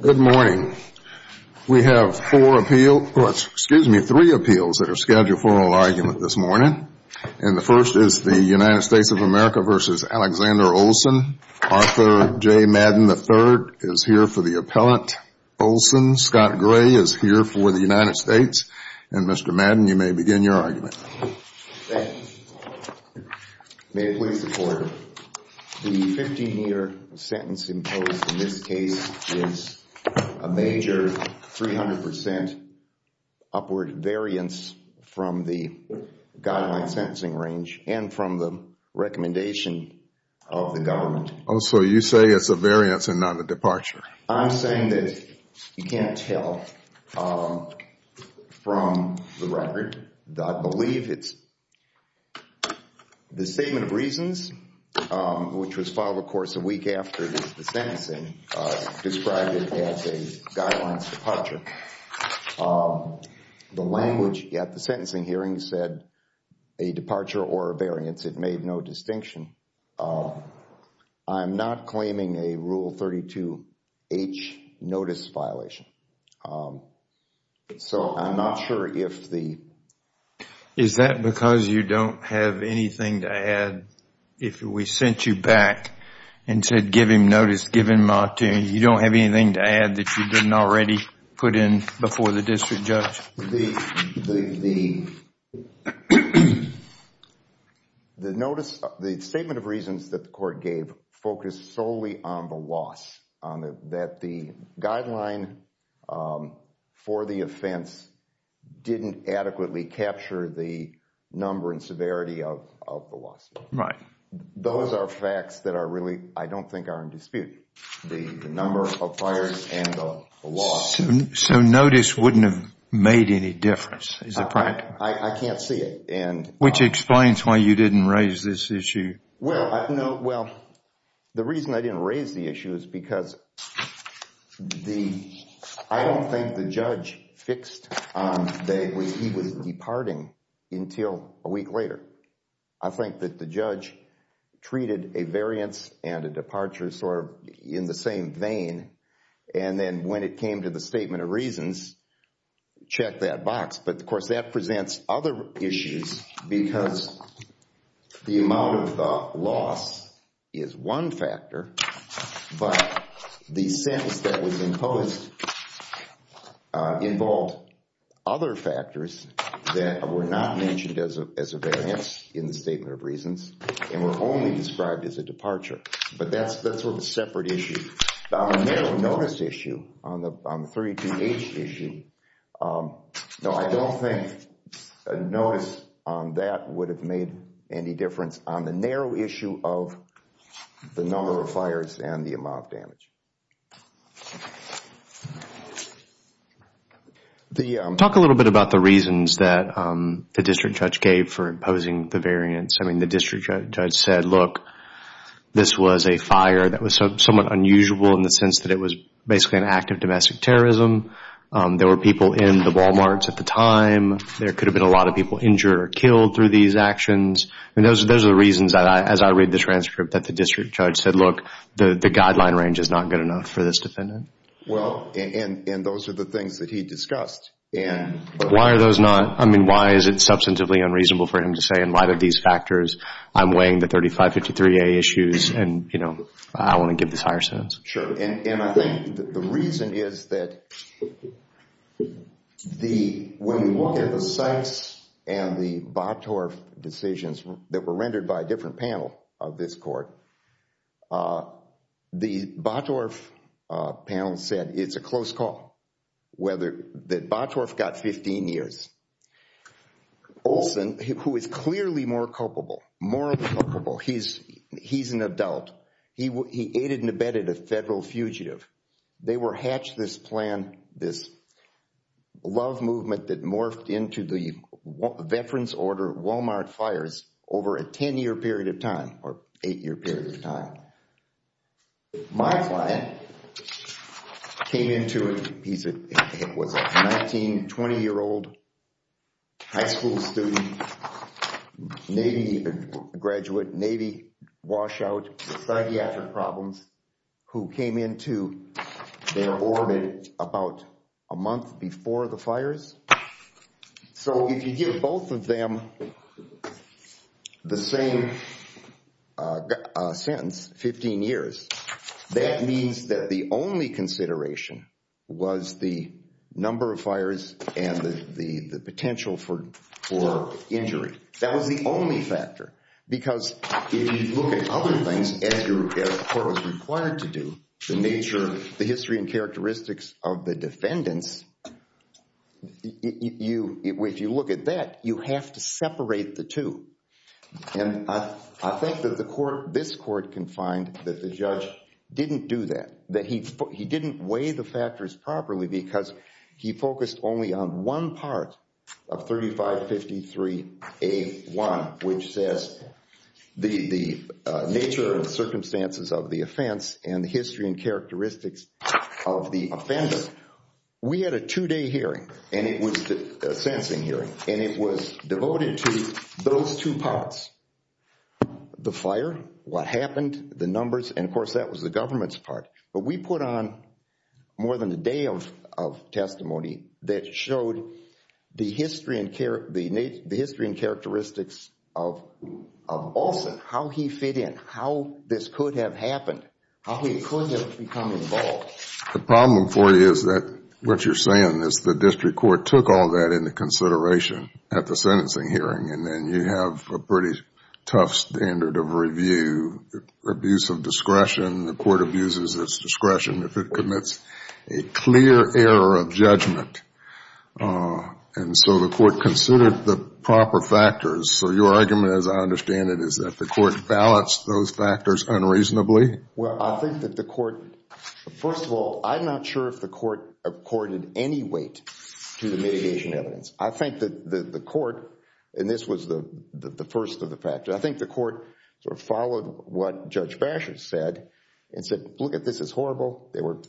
Good morning. We have three appeals that are scheduled for oral argument this morning. And the first is the United States of America v. Alexander Olson. Arthur J. Madden III is here for the appellant. Olson, Scott Gray is here for the United States. And Mr. Madden, you may begin your argument. Thank you. May it please the Court, the 15-year sentence imposed in this case is a major 300 percent upward variance from the guideline sentencing range and from the recommendation of the government. Oh, so you say it's a variance and not a departure. I'm saying that you can't tell from the record. I believe it's the statement of reasons, which was filed, of course, a week after the sentencing, described it as a guidelines departure. The language at the sentencing hearing said a departure or a variance. It made no distinction. I'm not claiming a Rule 32H notice violation. So I'm not sure if the Is that because you don't have anything to add? If we sent you back and said give him notice, give him an opportunity, you don't have anything to add that you didn't already put in before the district judge? The notice, the statement of reasons that the court gave focused solely on the loss, that the guideline for the offense didn't adequately capture the number and severity of the loss. Right. Those are facts that are really, I don't think, are in dispute. The number of fires and the loss. So notice wouldn't have made any difference. I can't see it. Which explains why you didn't raise this issue. Well, the reason I didn't raise the issue is because I don't think the judge fixed that he was departing until a week later. I think that the judge treated a variance and a departure sort of in the same vein. And then when it came to the statement of reasons, check that box. But of course, that presents other issues because the amount of loss is one factor, but the sentence that was imposed involved other factors that were not mentioned as a variance in the statement of reasons and were only described as a departure. But that's sort of a separate issue. On the narrow notice issue, on the 32H issue, no, I don't think a notice on that would have made any difference on the narrow issue of the number of fires and the amount of damage. Talk a little bit about the reasons that the district judge gave for imposing the variance. I mean, the district judge said, look, this was a fire that was somewhat unusual in the sense that it was basically an act of domestic terrorism. There were people in the Walmarts at the time. There could have been a lot of people injured or killed through these actions. I mean, those are the reasons that as I read the transcript that the district judge said, look, the guideline range is not good enough for this defendant. Well, and those are the things that he discussed. Why are those not, I mean, why is it substantively unreasonable for him to say in light of these factors, I'm weighing the 3553A issues and I want to give this higher sentence? Sure, and I think the reason is that when we look at the Sykes and the Bottorf decisions that were rendered by a different panel of this court, the Bottorf panel said it's a close call. Bottorf got 15 years. Olson, who is clearly more culpable, more culpable, he's an adult. He aided and abetted a federal fugitive. They were hatched this plan, this love movement that morphed into the veterans order Walmart fires over a 10-year period of time or eight-year period of time. My client came into it, he was a 19, 20-year-old high school student, Navy graduate, Navy washout, psychiatric problems, who came into their orbit about a month before the fires. So if you give both of them the same sentence, 15 years, that means that the only consideration was the number of fires and the potential for injury. That was the only factor because if you look at other things as the court was required to do, the nature, the history and characteristics of the defendants, if you look at that, you have to separate the two. And I think that the court, this court can find that the judge didn't do that, that he didn't weigh the factors properly because he focused only on one part of 3553A1, which says the nature and circumstances of the offense and the history and characteristics of the offender. We had a two-day hearing, a sensing hearing, and it was devoted to those two parts, the fire, what happened, the numbers, and of course that was the government's part. But we put on more than a day of testimony that showed the history and characteristics of Olson, how he fit in, how this could have happened, how he could have become involved. The problem for you is that what you're saying is the district court took all that into consideration at the sentencing hearing, and then you have a pretty tough standard of review, abuse of discretion. The court abuses its discretion if it commits a clear error of judgment. And so the court considered the proper factors. So your argument, as I understand it, is that the court balanced those factors unreasonably? Well, I think that the court... First of all, I'm not sure if the court accorded any weight to the mitigation evidence. I think that the court, and this was the first of the factors, I think the court sort of followed what Judge Basher said and said, Look, this is horrible. There were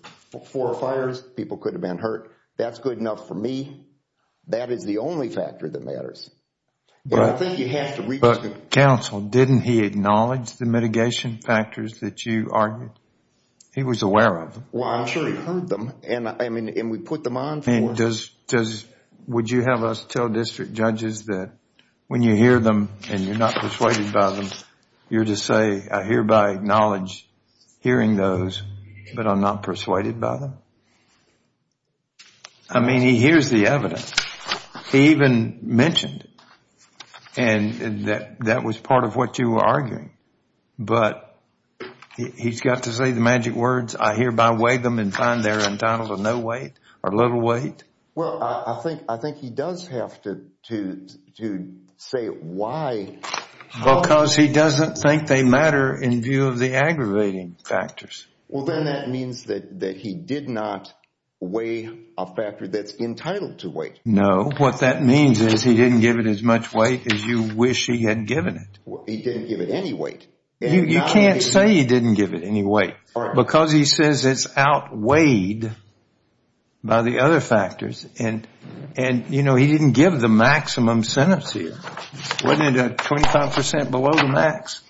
four fires. People could have been hurt. That's good enough for me. That is the only factor that matters. And I think you have to reconsider... He was aware of them. Well, I'm sure he heard them, and we put them on for... And would you have us tell district judges that when you hear them and you're not persuaded by them, you're to say, I hereby acknowledge hearing those, but I'm not persuaded by them? I mean, he hears the evidence. He even mentioned it, and that was part of what you were arguing. But he's got to say the magic words, I hereby weigh them and find they're entitled to no weight or little weight? Well, I think he does have to say why... Because he doesn't think they matter in view of the aggravating factors. Well, then that means that he did not weigh a factor that's entitled to weight. No. What that means is he didn't give it as much weight as you wish he had given it. He didn't give it any weight. You can't say he didn't give it any weight, because he says it's outweighed by the other factors. And, you know, he didn't give the maximum sentence here. Wasn't it 25 percent below the max?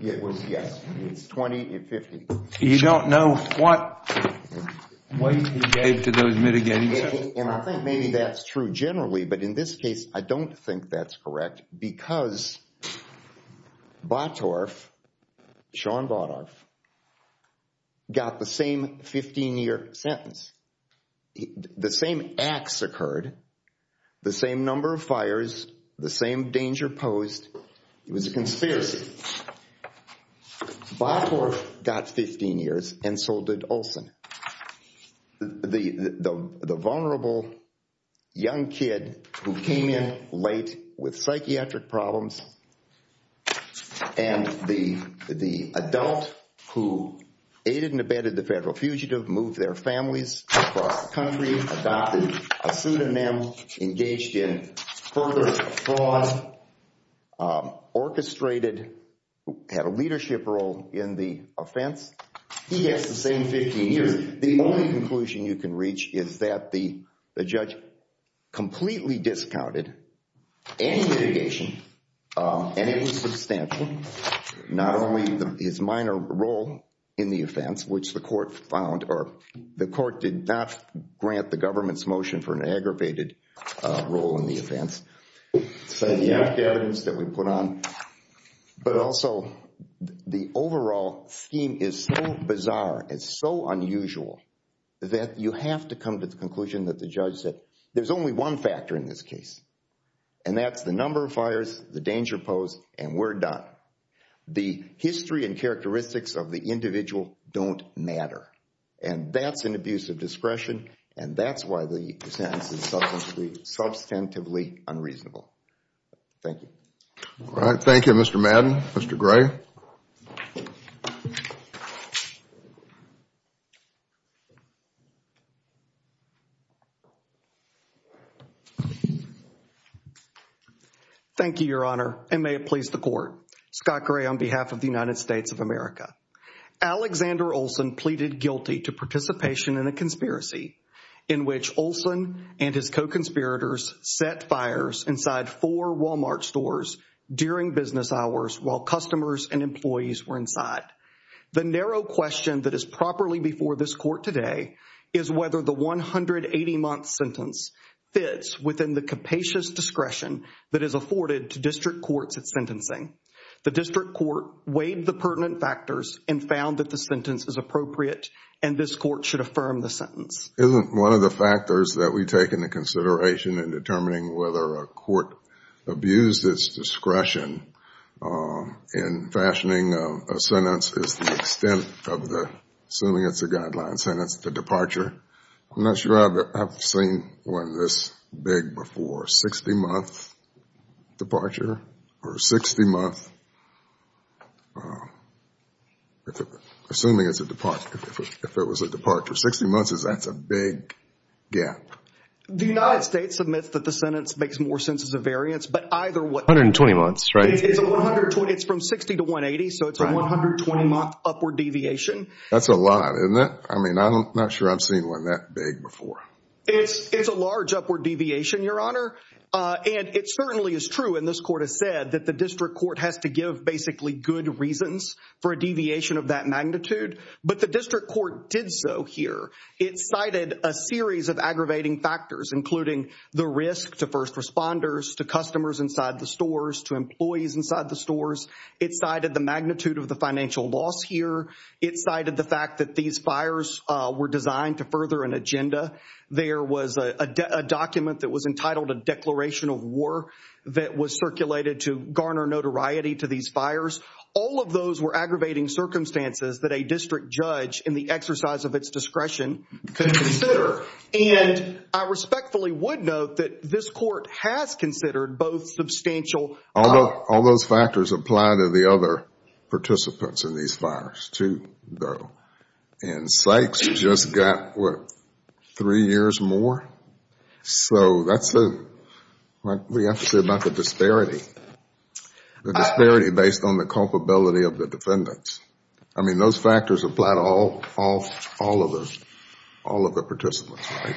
It was, yes. It's 20 and 50. You don't know what weight he gave to those mitigating... Batorf, Sean Batorf, got the same 15-year sentence. The same acts occurred, the same number of fires, the same danger posed. It was a conspiracy. Batorf got 15 years, and so did Olson. The vulnerable young kid who came in late with psychiatric problems, and the adult who aided and abetted the federal fugitive, moved their families across the country, adopted a pseudonym, engaged in further fraud, orchestrated, had a leadership role in the offense. He gets the same 15 years. The only conclusion you can reach is that the judge completely discounted any litigation, and it was substantial. Not only his minor role in the offense, which the court found, or the court did not grant the government's motion for an aggravated role in the offense, the evidence that we put on, but also the overall scheme is so bizarre and so unusual that you have to come to the conclusion that the judge said, there's only one factor in this case, and that's the number of fires, the danger posed, and we're done. The history and characteristics of the individual don't matter, and that's an abuse of discretion, and that's why the sentence is substantively unreasonable. Thank you. All right. Thank you, Mr. Madden. Mr. Gray. Thank you, Your Honor, and may it please the court. Scott Gray on behalf of the United States of America. Alexander Olson pleaded guilty to participation in a conspiracy in which Olson and his co-conspirators set fires inside four Walmart stores during business hours while customers and employees were inside. The narrow question that is properly before this court today is whether the 180-month sentence fits within the capacious discretion that is afforded to district courts at sentencing. The district court weighed the pertinent factors and found that the sentence is appropriate and this court should affirm the sentence. Isn't one of the factors that we take into consideration in determining whether a court abused its discretion in fashioning a sentence is the extent of the, assuming it's a guideline sentence, the departure? I'm not sure I've seen one this big before. A 60-month departure or a 60-month, assuming it's a departure. If it was a departure, 60 months, that's a big gap. The United States admits that the sentence makes more sense as a variance, but either way. 120 months, right? It's from 60 to 180, so it's a 120-month upward deviation. That's a lot, isn't it? I mean, I'm not sure I've seen one that big before. It's a large upward deviation, Your Honor. And it certainly is true, and this court has said, that the district court has to give basically good reasons for a deviation of that magnitude. But the district court did so here. It cited a series of aggravating factors, including the risk to first responders, to customers inside the stores, to employees inside the stores. It cited the magnitude of the financial loss here. It cited the fact that these fires were designed to further an agenda. There was a document that was entitled a declaration of war, that was circulated to garner notoriety to these fires. All of those were aggravating circumstances that a district judge, in the exercise of its discretion, could consider. And I respectfully would note that this court has considered both substantial. All those factors apply to the other participants in these fires, too, though. And Sykes just got, what, three years more? So that's what we have to say about the disparity, the disparity based on the culpability of the defendants. I mean, those factors apply to all of the participants, right?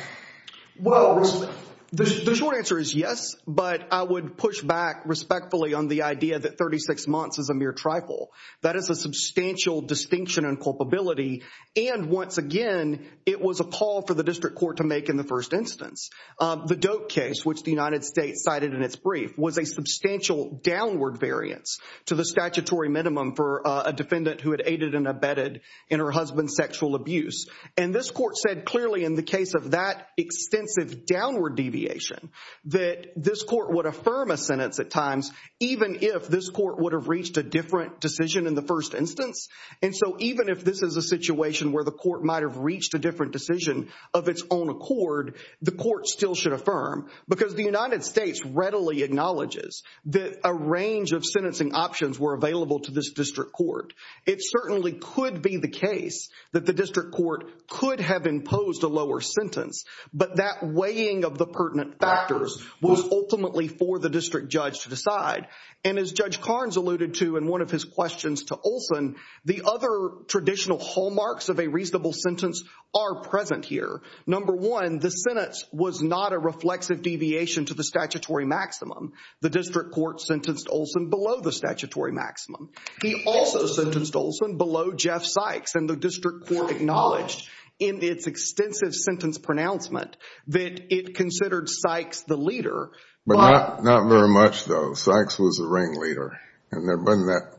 Well, the short answer is yes, but I would push back respectfully on the idea that 36 months is a mere trifle. That is a substantial distinction in culpability. And once again, it was a call for the district court to make in the first instance. The Doak case, which the United States cited in its brief, was a substantial downward variance to the statutory minimum for a defendant who had aided and abetted in her husband's sexual abuse. And this court said clearly in the case of that extensive downward deviation that this court would affirm a sentence at times even if this court would have reached a different decision in the first instance. And so even if this is a situation where the court might have reached a different decision of its own accord, the court still should affirm. Because the United States readily acknowledges that a range of sentencing options were available to this district court. It certainly could be the case that the district court could have imposed a lower sentence, but that weighing of the pertinent factors was ultimately for the district judge to decide. And as Judge Carnes alluded to in one of his questions to Olson, the other traditional hallmarks of a reasonable sentence are present here. Number one, the sentence was not a reflexive deviation to the statutory maximum. The district court sentenced Olson below the statutory maximum. He also sentenced Olson below Jeff Sykes, and the district court acknowledged in its extensive sentence pronouncement that it considered Sykes the leader. But not very much, though. Sykes was the ringleader, and there wasn't that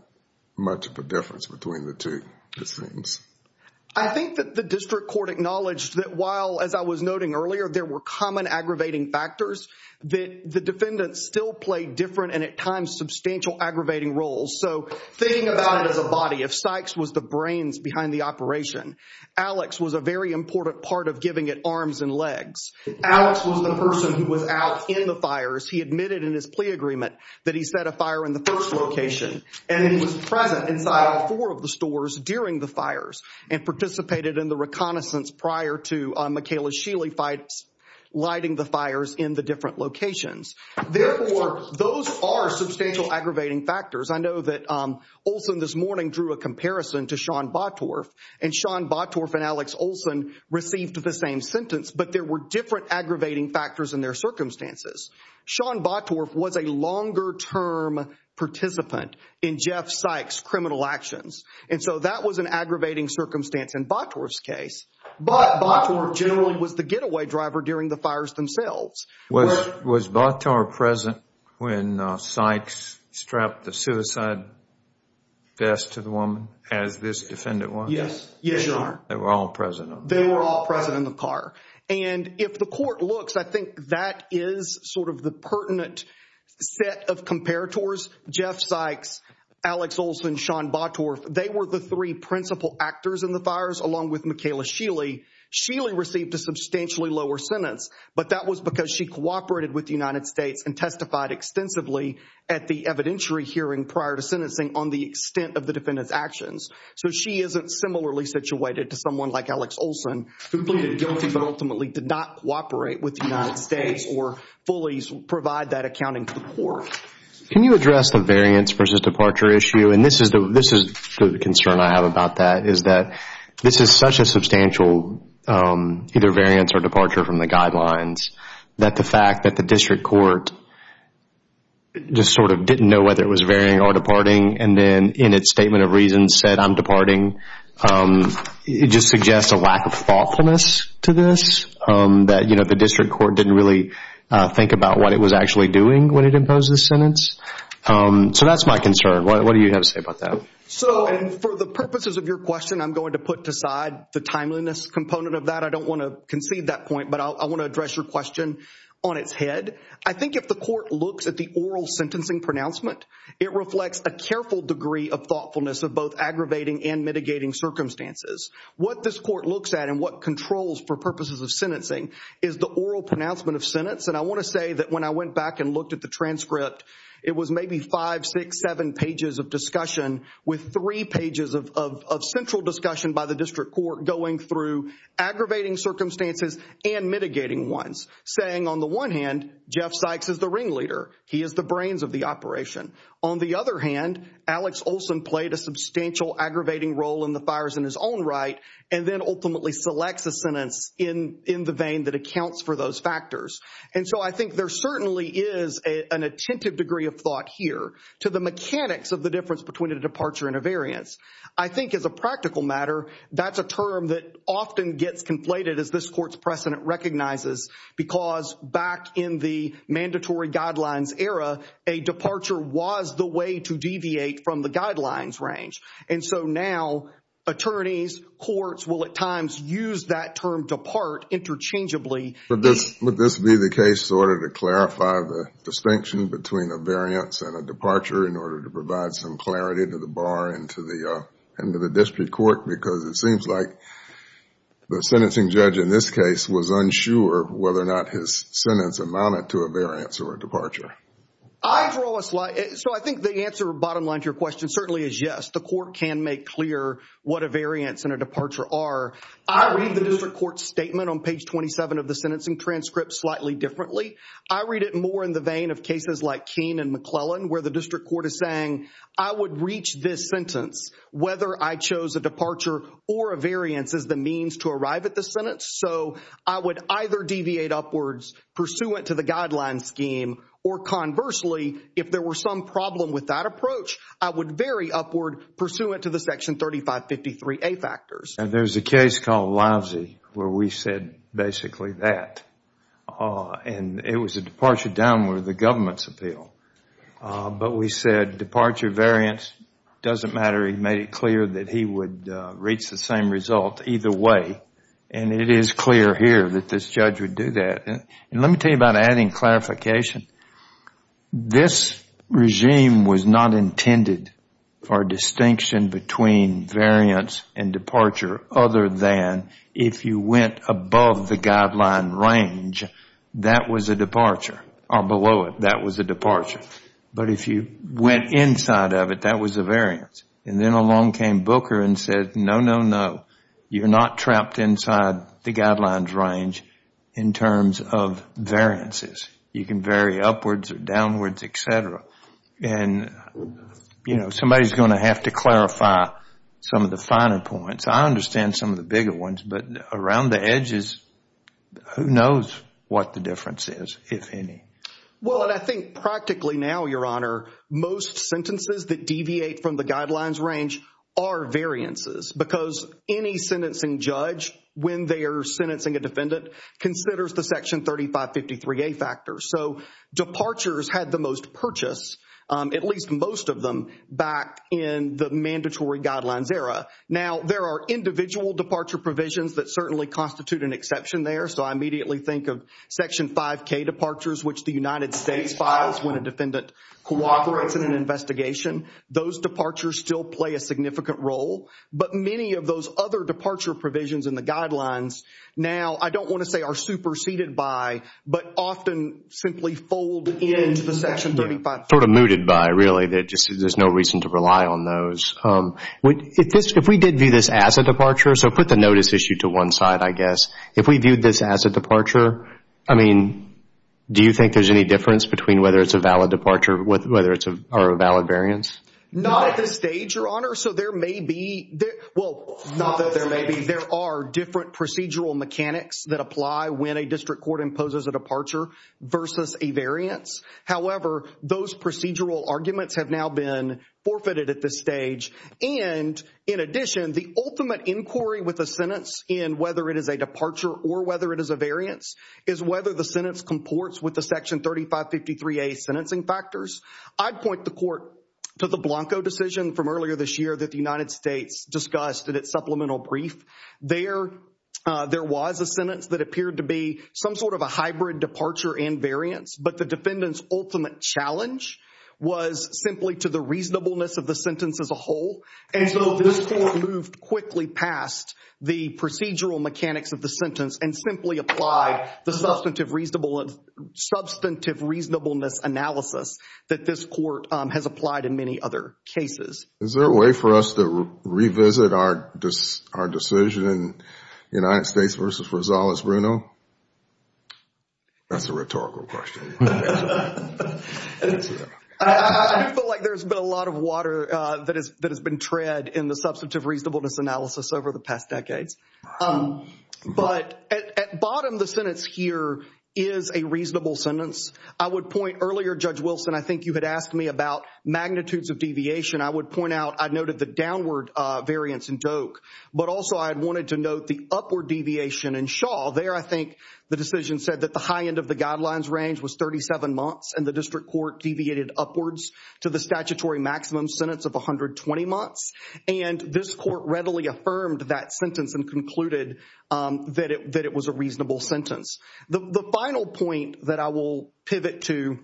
much of a difference between the two, it seems. I think that the district court acknowledged that while, as I was noting earlier, there were common aggravating factors, that the defendants still played different and at times substantial aggravating roles. So thinking about it as a body, if Sykes was the brains behind the operation, Alex was a very important part of giving it arms and legs. Alex was the person who was out in the fires. He admitted in his plea agreement that he set a fire in the first location, and he was present inside four of the stores during the fires and participated in the reconnaissance prior to Michaela Sheely lighting the fires in the different locations. Therefore, those are substantial aggravating factors. I know that Olson this morning drew a comparison to Sean Bottorff, and Sean Bottorff and Alex Olson received the same sentence, but there were different aggravating factors in their circumstances. Sean Bottorff was a longer-term participant in Jeff Sykes' criminal actions, and so that was an aggravating circumstance in Bottorff's case. But Bottorff generally was the getaway driver during the fires themselves. Was Bottorff present when Sykes strapped the suicide vest to the woman as this defendant was? Yes. Yes, Your Honor. They were all present? They were all present in the car. And if the court looks, I think that is sort of the pertinent set of comparators. Jeff Sykes, Alex Olson, Sean Bottorff, they were the three principal actors in the fires along with Michaela Sheely. Sheely received a substantially lower sentence, but that was because she cooperated with the United States and testified extensively at the evidentiary hearing prior to sentencing on the extent of the defendant's actions. So she isn't similarly situated to someone like Alex Olson, who pleaded guilty but ultimately did not cooperate with the United States or fully provide that accounting to the court. Can you address the variance versus departure issue? And this is the concern I have about that, is that this is such a substantial either variance or departure from the guidelines that the fact that the district court just sort of didn't know whether it was varying or departing and then in its statement of reasons said, I'm departing, it just suggests a lack of thoughtfulness to this, that the district court didn't really think about what it was actually doing when it imposed this sentence. So that's my concern. What do you have to say about that? So for the purposes of your question, I'm going to put aside the timeliness component of that. I don't want to concede that point, but I want to address your question on its head. I think if the court looks at the oral sentencing pronouncement, it reflects a careful degree of thoughtfulness of both aggravating and mitigating circumstances. What this court looks at and what controls for purposes of sentencing is the oral pronouncement of sentence. And I want to say that when I went back and looked at the transcript, it was maybe five, six, seven pages of discussion with three pages of central discussion by the district court going through aggravating circumstances and mitigating ones, saying on the one hand, Jeff Sykes is the ringleader. He is the brains of the operation. On the other hand, Alex Olson played a substantial aggravating role in the fires in his own right and then ultimately selects a sentence in the vein that accounts for those factors. And so I think there certainly is an attentive degree of thought here to the mechanics of the difference between a departure and a variance. I think as a practical matter, that's a term that often gets conflated as this court's precedent recognizes because back in the mandatory guidelines era, a departure was the way to deviate from the guidelines range. And so now attorneys, courts will at times use that term depart interchangeably. Would this be the case in order to clarify the distinction between a variance and a departure in order to provide some clarity to the bar and to the district court? Because it seems like the sentencing judge in this case was unsure whether or not his sentence amounted to a variance or a departure. I draw a slight. So I think the answer, bottom line to your question, certainly is yes. The court can make clear what a variance and a departure are. I read the district court statement on page 27 of the sentencing transcript slightly differently. I read it more in the vein of cases like Keene and McClellan where the district court is saying, I would reach this sentence whether I chose a departure or a variance as the means to arrive at the sentence. So I would either deviate upwards pursuant to the guideline scheme or conversely, if there were some problem with that approach, I would vary upward pursuant to the section 3553A factors. There's a case called Lousy where we said basically that. And it was a departure down with the government's appeal. But we said departure, variance, doesn't matter. He made it clear that he would reach the same result either way. And it is clear here that this judge would do that. And let me tell you about adding clarification. This regime was not intended for distinction between variance and departure other than if you went above the guideline range, that was a departure. Or below it, that was a departure. But if you went inside of it, that was a variance. And then along came Booker and said, no, no, no. You're not trapped inside the guidelines range in terms of variances. You can vary upwards or downwards, et cetera. And, you know, somebody's going to have to clarify some of the finer points. I understand some of the bigger ones. But around the edges, who knows what the difference is, if any. Well, and I think practically now, Your Honor, most sentences that deviate from the guidelines range are variances because any sentencing judge, when they are sentencing a defendant, considers the Section 3553A factors. So departures had the most purchase, at least most of them, back in the mandatory guidelines era. Now, there are individual departure provisions that certainly constitute an exception there. So I immediately think of Section 5K departures, which the United States files when a defendant cooperates in an investigation. Those departures still play a significant role. But many of those other departure provisions in the guidelines now, I don't want to say are superseded by, but often simply fold into the Section 3553A. Sort of mooted by, really. There's no reason to rely on those. If we did view this as a departure, so put the notice issue to one side, I guess. If we viewed this as a departure, I mean, do you think there's any difference between whether it's a valid departure or a valid variance? Not at this stage, Your Honor. Your Honor, so there may be, well, not that there may be. There are different procedural mechanics that apply when a district court imposes a departure versus a variance. However, those procedural arguments have now been forfeited at this stage. And, in addition, the ultimate inquiry with a sentence, in whether it is a departure or whether it is a variance, is whether the sentence comports with the Section 3553A sentencing factors. I'd point the court to the Blanco decision from earlier this year that the United States discussed in its supplemental brief. There was a sentence that appeared to be some sort of a hybrid departure and variance, but the defendant's ultimate challenge was simply to the reasonableness of the sentence as a whole. And so this court moved quickly past the procedural mechanics of the sentence and simply applied the substantive reasonableness analysis that this court has applied in many other cases. Is there a way for us to revisit our decision, United States versus Rosales-Bruno? That's a rhetorical question. I feel like there's been a lot of water that has been tread in the substantive reasonableness analysis over the past decades. But at bottom, the sentence here is a reasonable sentence. I would point earlier, Judge Wilson, I think you had asked me about magnitudes of deviation. I would point out I noted the downward variance in Doak, but also I wanted to note the upward deviation in Shaw. There I think the decision said that the high end of the guidelines range was 37 months, and the district court deviated upwards to the statutory maximum sentence of 120 months. And this court readily affirmed that sentence and concluded that it was a reasonable sentence. The final point that I will pivot to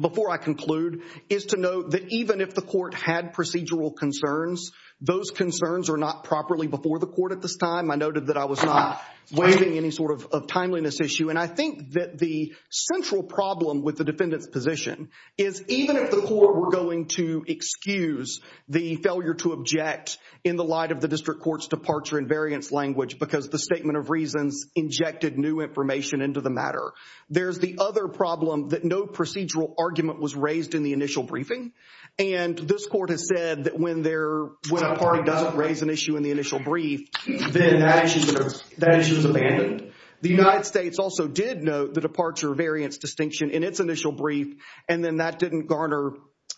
before I conclude is to note that even if the court had procedural concerns, those concerns are not properly before the court at this time. I noted that I was not waiving any sort of timeliness issue. And I think that the central problem with the defendant's position is even if the court were going to excuse the failure to object in the light of the district court's departure and variance language because the statement of reasons injected new information into the matter, there's the other problem that no procedural argument was raised in the initial briefing. And this court has said that when a party doesn't raise an issue in the initial brief, then that issue is abandoned. The United States also did note the departure variance distinction in its initial brief, and then that didn't garner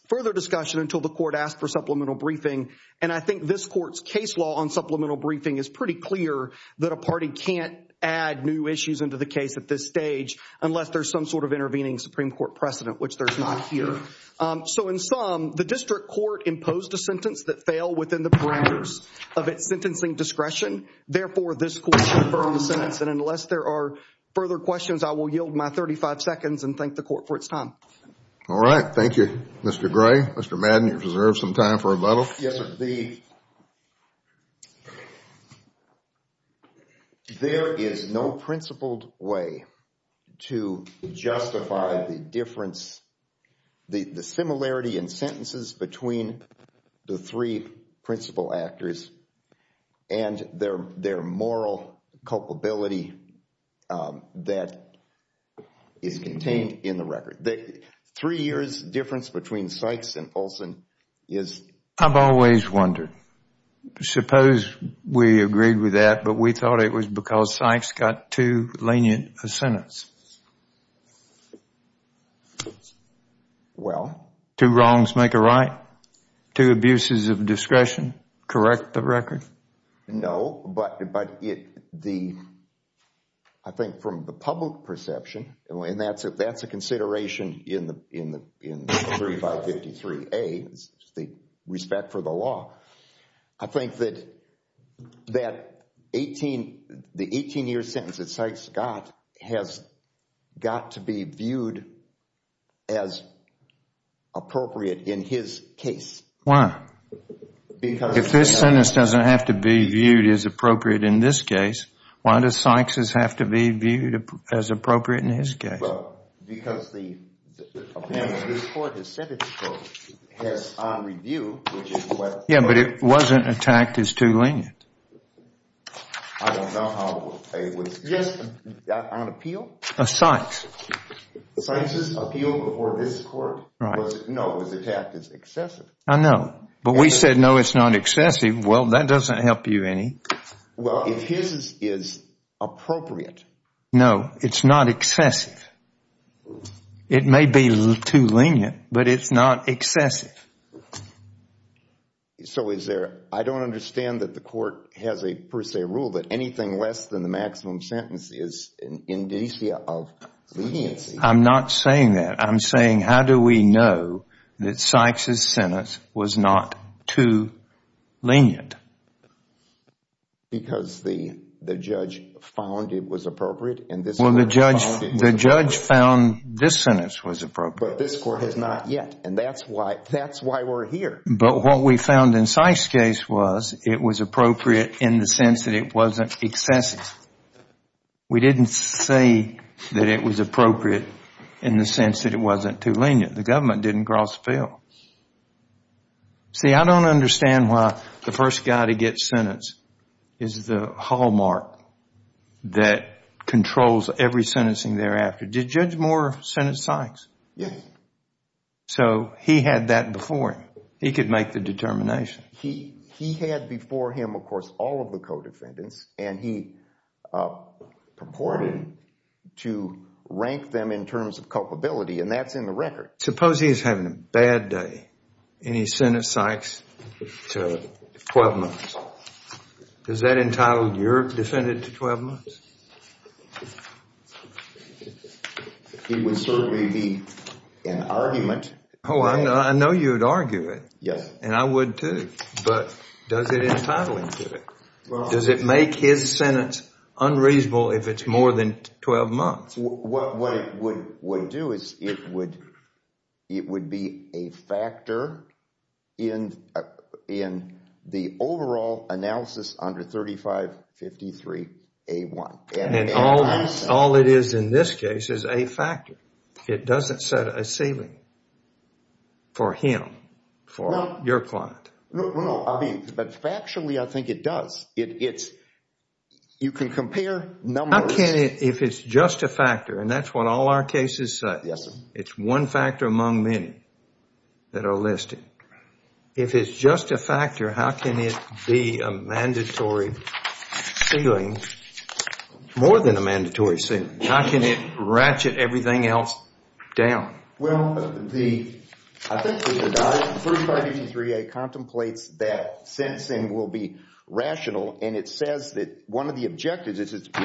further discussion until the court asked for supplemental briefing. And I think this court's case law on supplemental briefing is pretty clear that a party can't add new issues into the case at this stage unless there's some sort of intervening Supreme Court precedent, which there's not here. So in sum, the district court imposed a sentence that failed within the parameters of its sentencing discretion. Therefore, this court should affirm the sentence. And unless there are further questions, I will yield my 35 seconds and thank the court for its time. All right. Thank you, Mr. Gray. Mr. Madden, you've reserved some time for a medal. Yes, sir. There is no principled way to justify the difference, the similarity in sentences between the three principal actors and their moral culpability that is contained in the record. Three years difference between Sykes and Olson is... I've always wondered. Suppose we agreed with that, but we thought it was because Sykes got too lenient a sentence. Well... Two wrongs make a right. Two abuses of discretion correct the record? No, but I think from the public perception, and that's a consideration in 3553A, the respect for the law, I think that the 18-year sentence that Sykes got has got to be viewed as appropriate in his case. Why? Because... If this sentence doesn't have to be viewed as appropriate in this case, why does Sykes' have to be viewed as appropriate in his case? Well, because the opinion of this court has said it has on review... Yeah, but it wasn't attacked as too lenient. I don't know how it was... Yes. On appeal? Of Sykes. Sykes' appeal before this court was, no, it was attacked as excessive. I know, but we said, no, it's not excessive. Well, that doesn't help you any. Well, if his is appropriate... No, it's not excessive. It may be too lenient, but it's not excessive. So is there... I don't understand that the court has a per se rule that anything less than the maximum sentence is an indicia of leniency. I'm not saying that. I'm saying how do we know that Sykes' sentence was not too lenient? Because the judge found it was appropriate and this court found it was... Well, the judge found this sentence was appropriate. But this court has not yet, and that's why we're here. But what we found in Sykes' case was it was appropriate in the sense that it wasn't excessive. We didn't say that it was appropriate in the sense that it wasn't too lenient. The government didn't cross the field. See, I don't understand why the first guy to get sentenced is the hallmark that controls every sentencing thereafter. Did Judge Moore sentence Sykes? Yes. So he had that before him. He could make the determination. He had before him, of course, all of the co-defendants, and he purported to rank them in terms of culpability, and that's in the record. Suppose he's having a bad day and he sentenced Sykes to 12 months. Does that entitle your defendant to 12 months? It would certainly be an argument. Oh, I know you would argue it. Yes. And I would too, but does it entitle him to it? Does it make his sentence unreasonable if it's more than 12 months? What it would do is it would be a factor in the overall analysis under 3553A1. And all it is in this case is a factor. It doesn't set a ceiling for him, for your client. No, but factually I think it does. You can compare numbers. How can it, if it's just a factor, and that's what all our cases say, it's one factor among many that are listed. If it's just a factor, how can it be a mandatory ceiling, more than a mandatory ceiling? How can it ratchet everything else down? Well, I think 3553A contemplates that sentencing will be rational, and it says that one of the objectives is to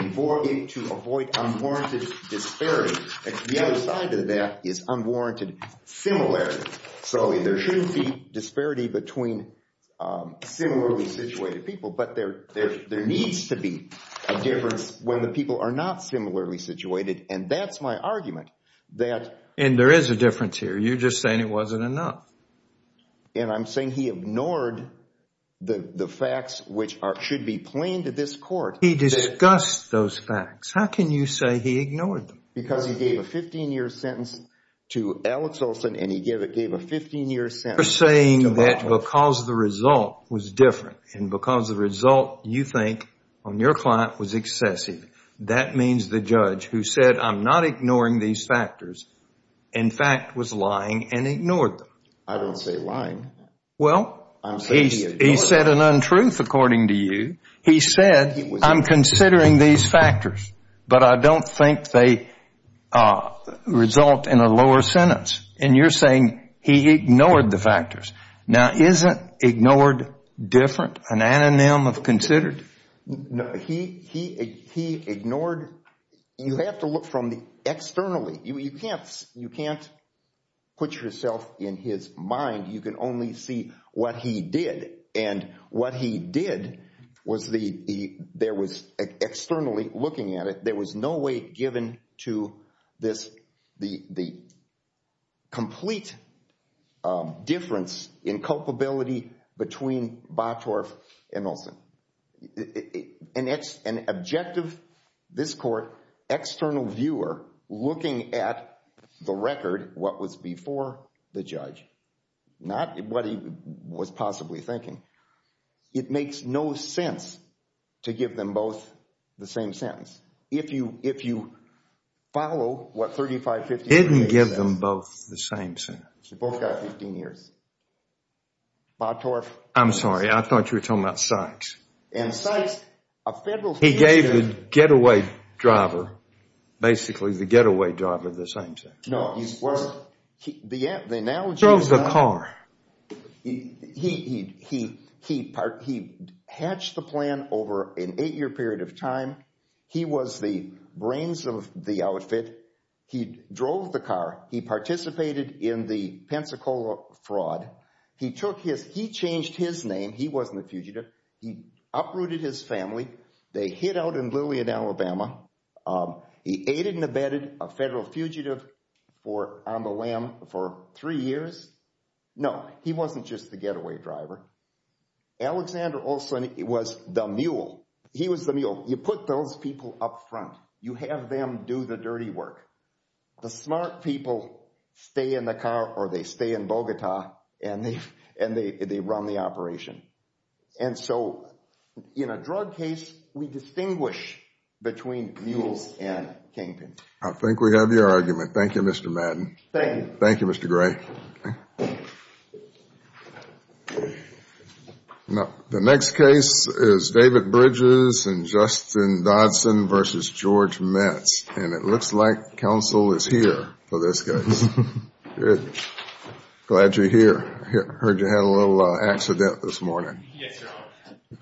avoid unwarranted disparity. The other side of that is unwarranted similarity. So there shouldn't be disparity between similarly situated people, but there needs to be a difference when the people are not similarly situated, and that's my argument. And there is a difference here. You're just saying it wasn't enough. And I'm saying he ignored the facts which should be plain to this court. He discussed those facts. How can you say he ignored them? Because he gave a 15-year sentence to Alex Olson, and he gave a 15-year sentence to Baldwin. You're saying that because the result was different and because the result you think on your client was excessive, that means the judge who said, I'm not ignoring these factors, in fact, was lying and ignored them. I don't say lying. Well, he said an untruth, according to you. He said, I'm considering these factors, but I don't think they result in a lower sentence. And you're saying he ignored the factors. Now, isn't ignored different, an anonym of considered? No, he ignored. You have to look from the externally. You can't put yourself in his mind. You can only see what he did. And what he did was there was externally looking at it. There was no way given to the complete difference in culpability between Bothorff and Olson. An objective, this court, external viewer looking at the record, what was before the judge, not what he was possibly thinking. It makes no sense to give them both the same sentence. If you follow what 3550 says. He didn't give them both the same sentence. They both got 15 years. Bothorff. I'm sorry. I thought you were talking about Sykes. And Sykes, a federal citizen. He gave the getaway driver, basically the getaway driver, the same sentence. No. He drove the car. He hatched the plan over an eight-year period of time. He was the brains of the outfit. He drove the car. He participated in the Pensacola fraud. He changed his name. He wasn't a fugitive. He uprooted his family. They hid out in Lillian, Alabama. He aided and abetted a federal fugitive on the lam for three years. No. He wasn't just the getaway driver. Alexander Olsen was the mule. He was the mule. You put those people up front. You have them do the dirty work. The smart people stay in the car or they stay in Bogota and they run the operation. And so, in a drug case, we distinguish between mules and kingpins. I think we have your argument. Thank you, Mr. Madden. Thank you. Thank you, Mr. Gray. The next case is David Bridges and Justin Dodson v. George Metz. And it looks like counsel is here for this case. Glad you're here. Heard you had a little accident this morning. Yes, Your Honor.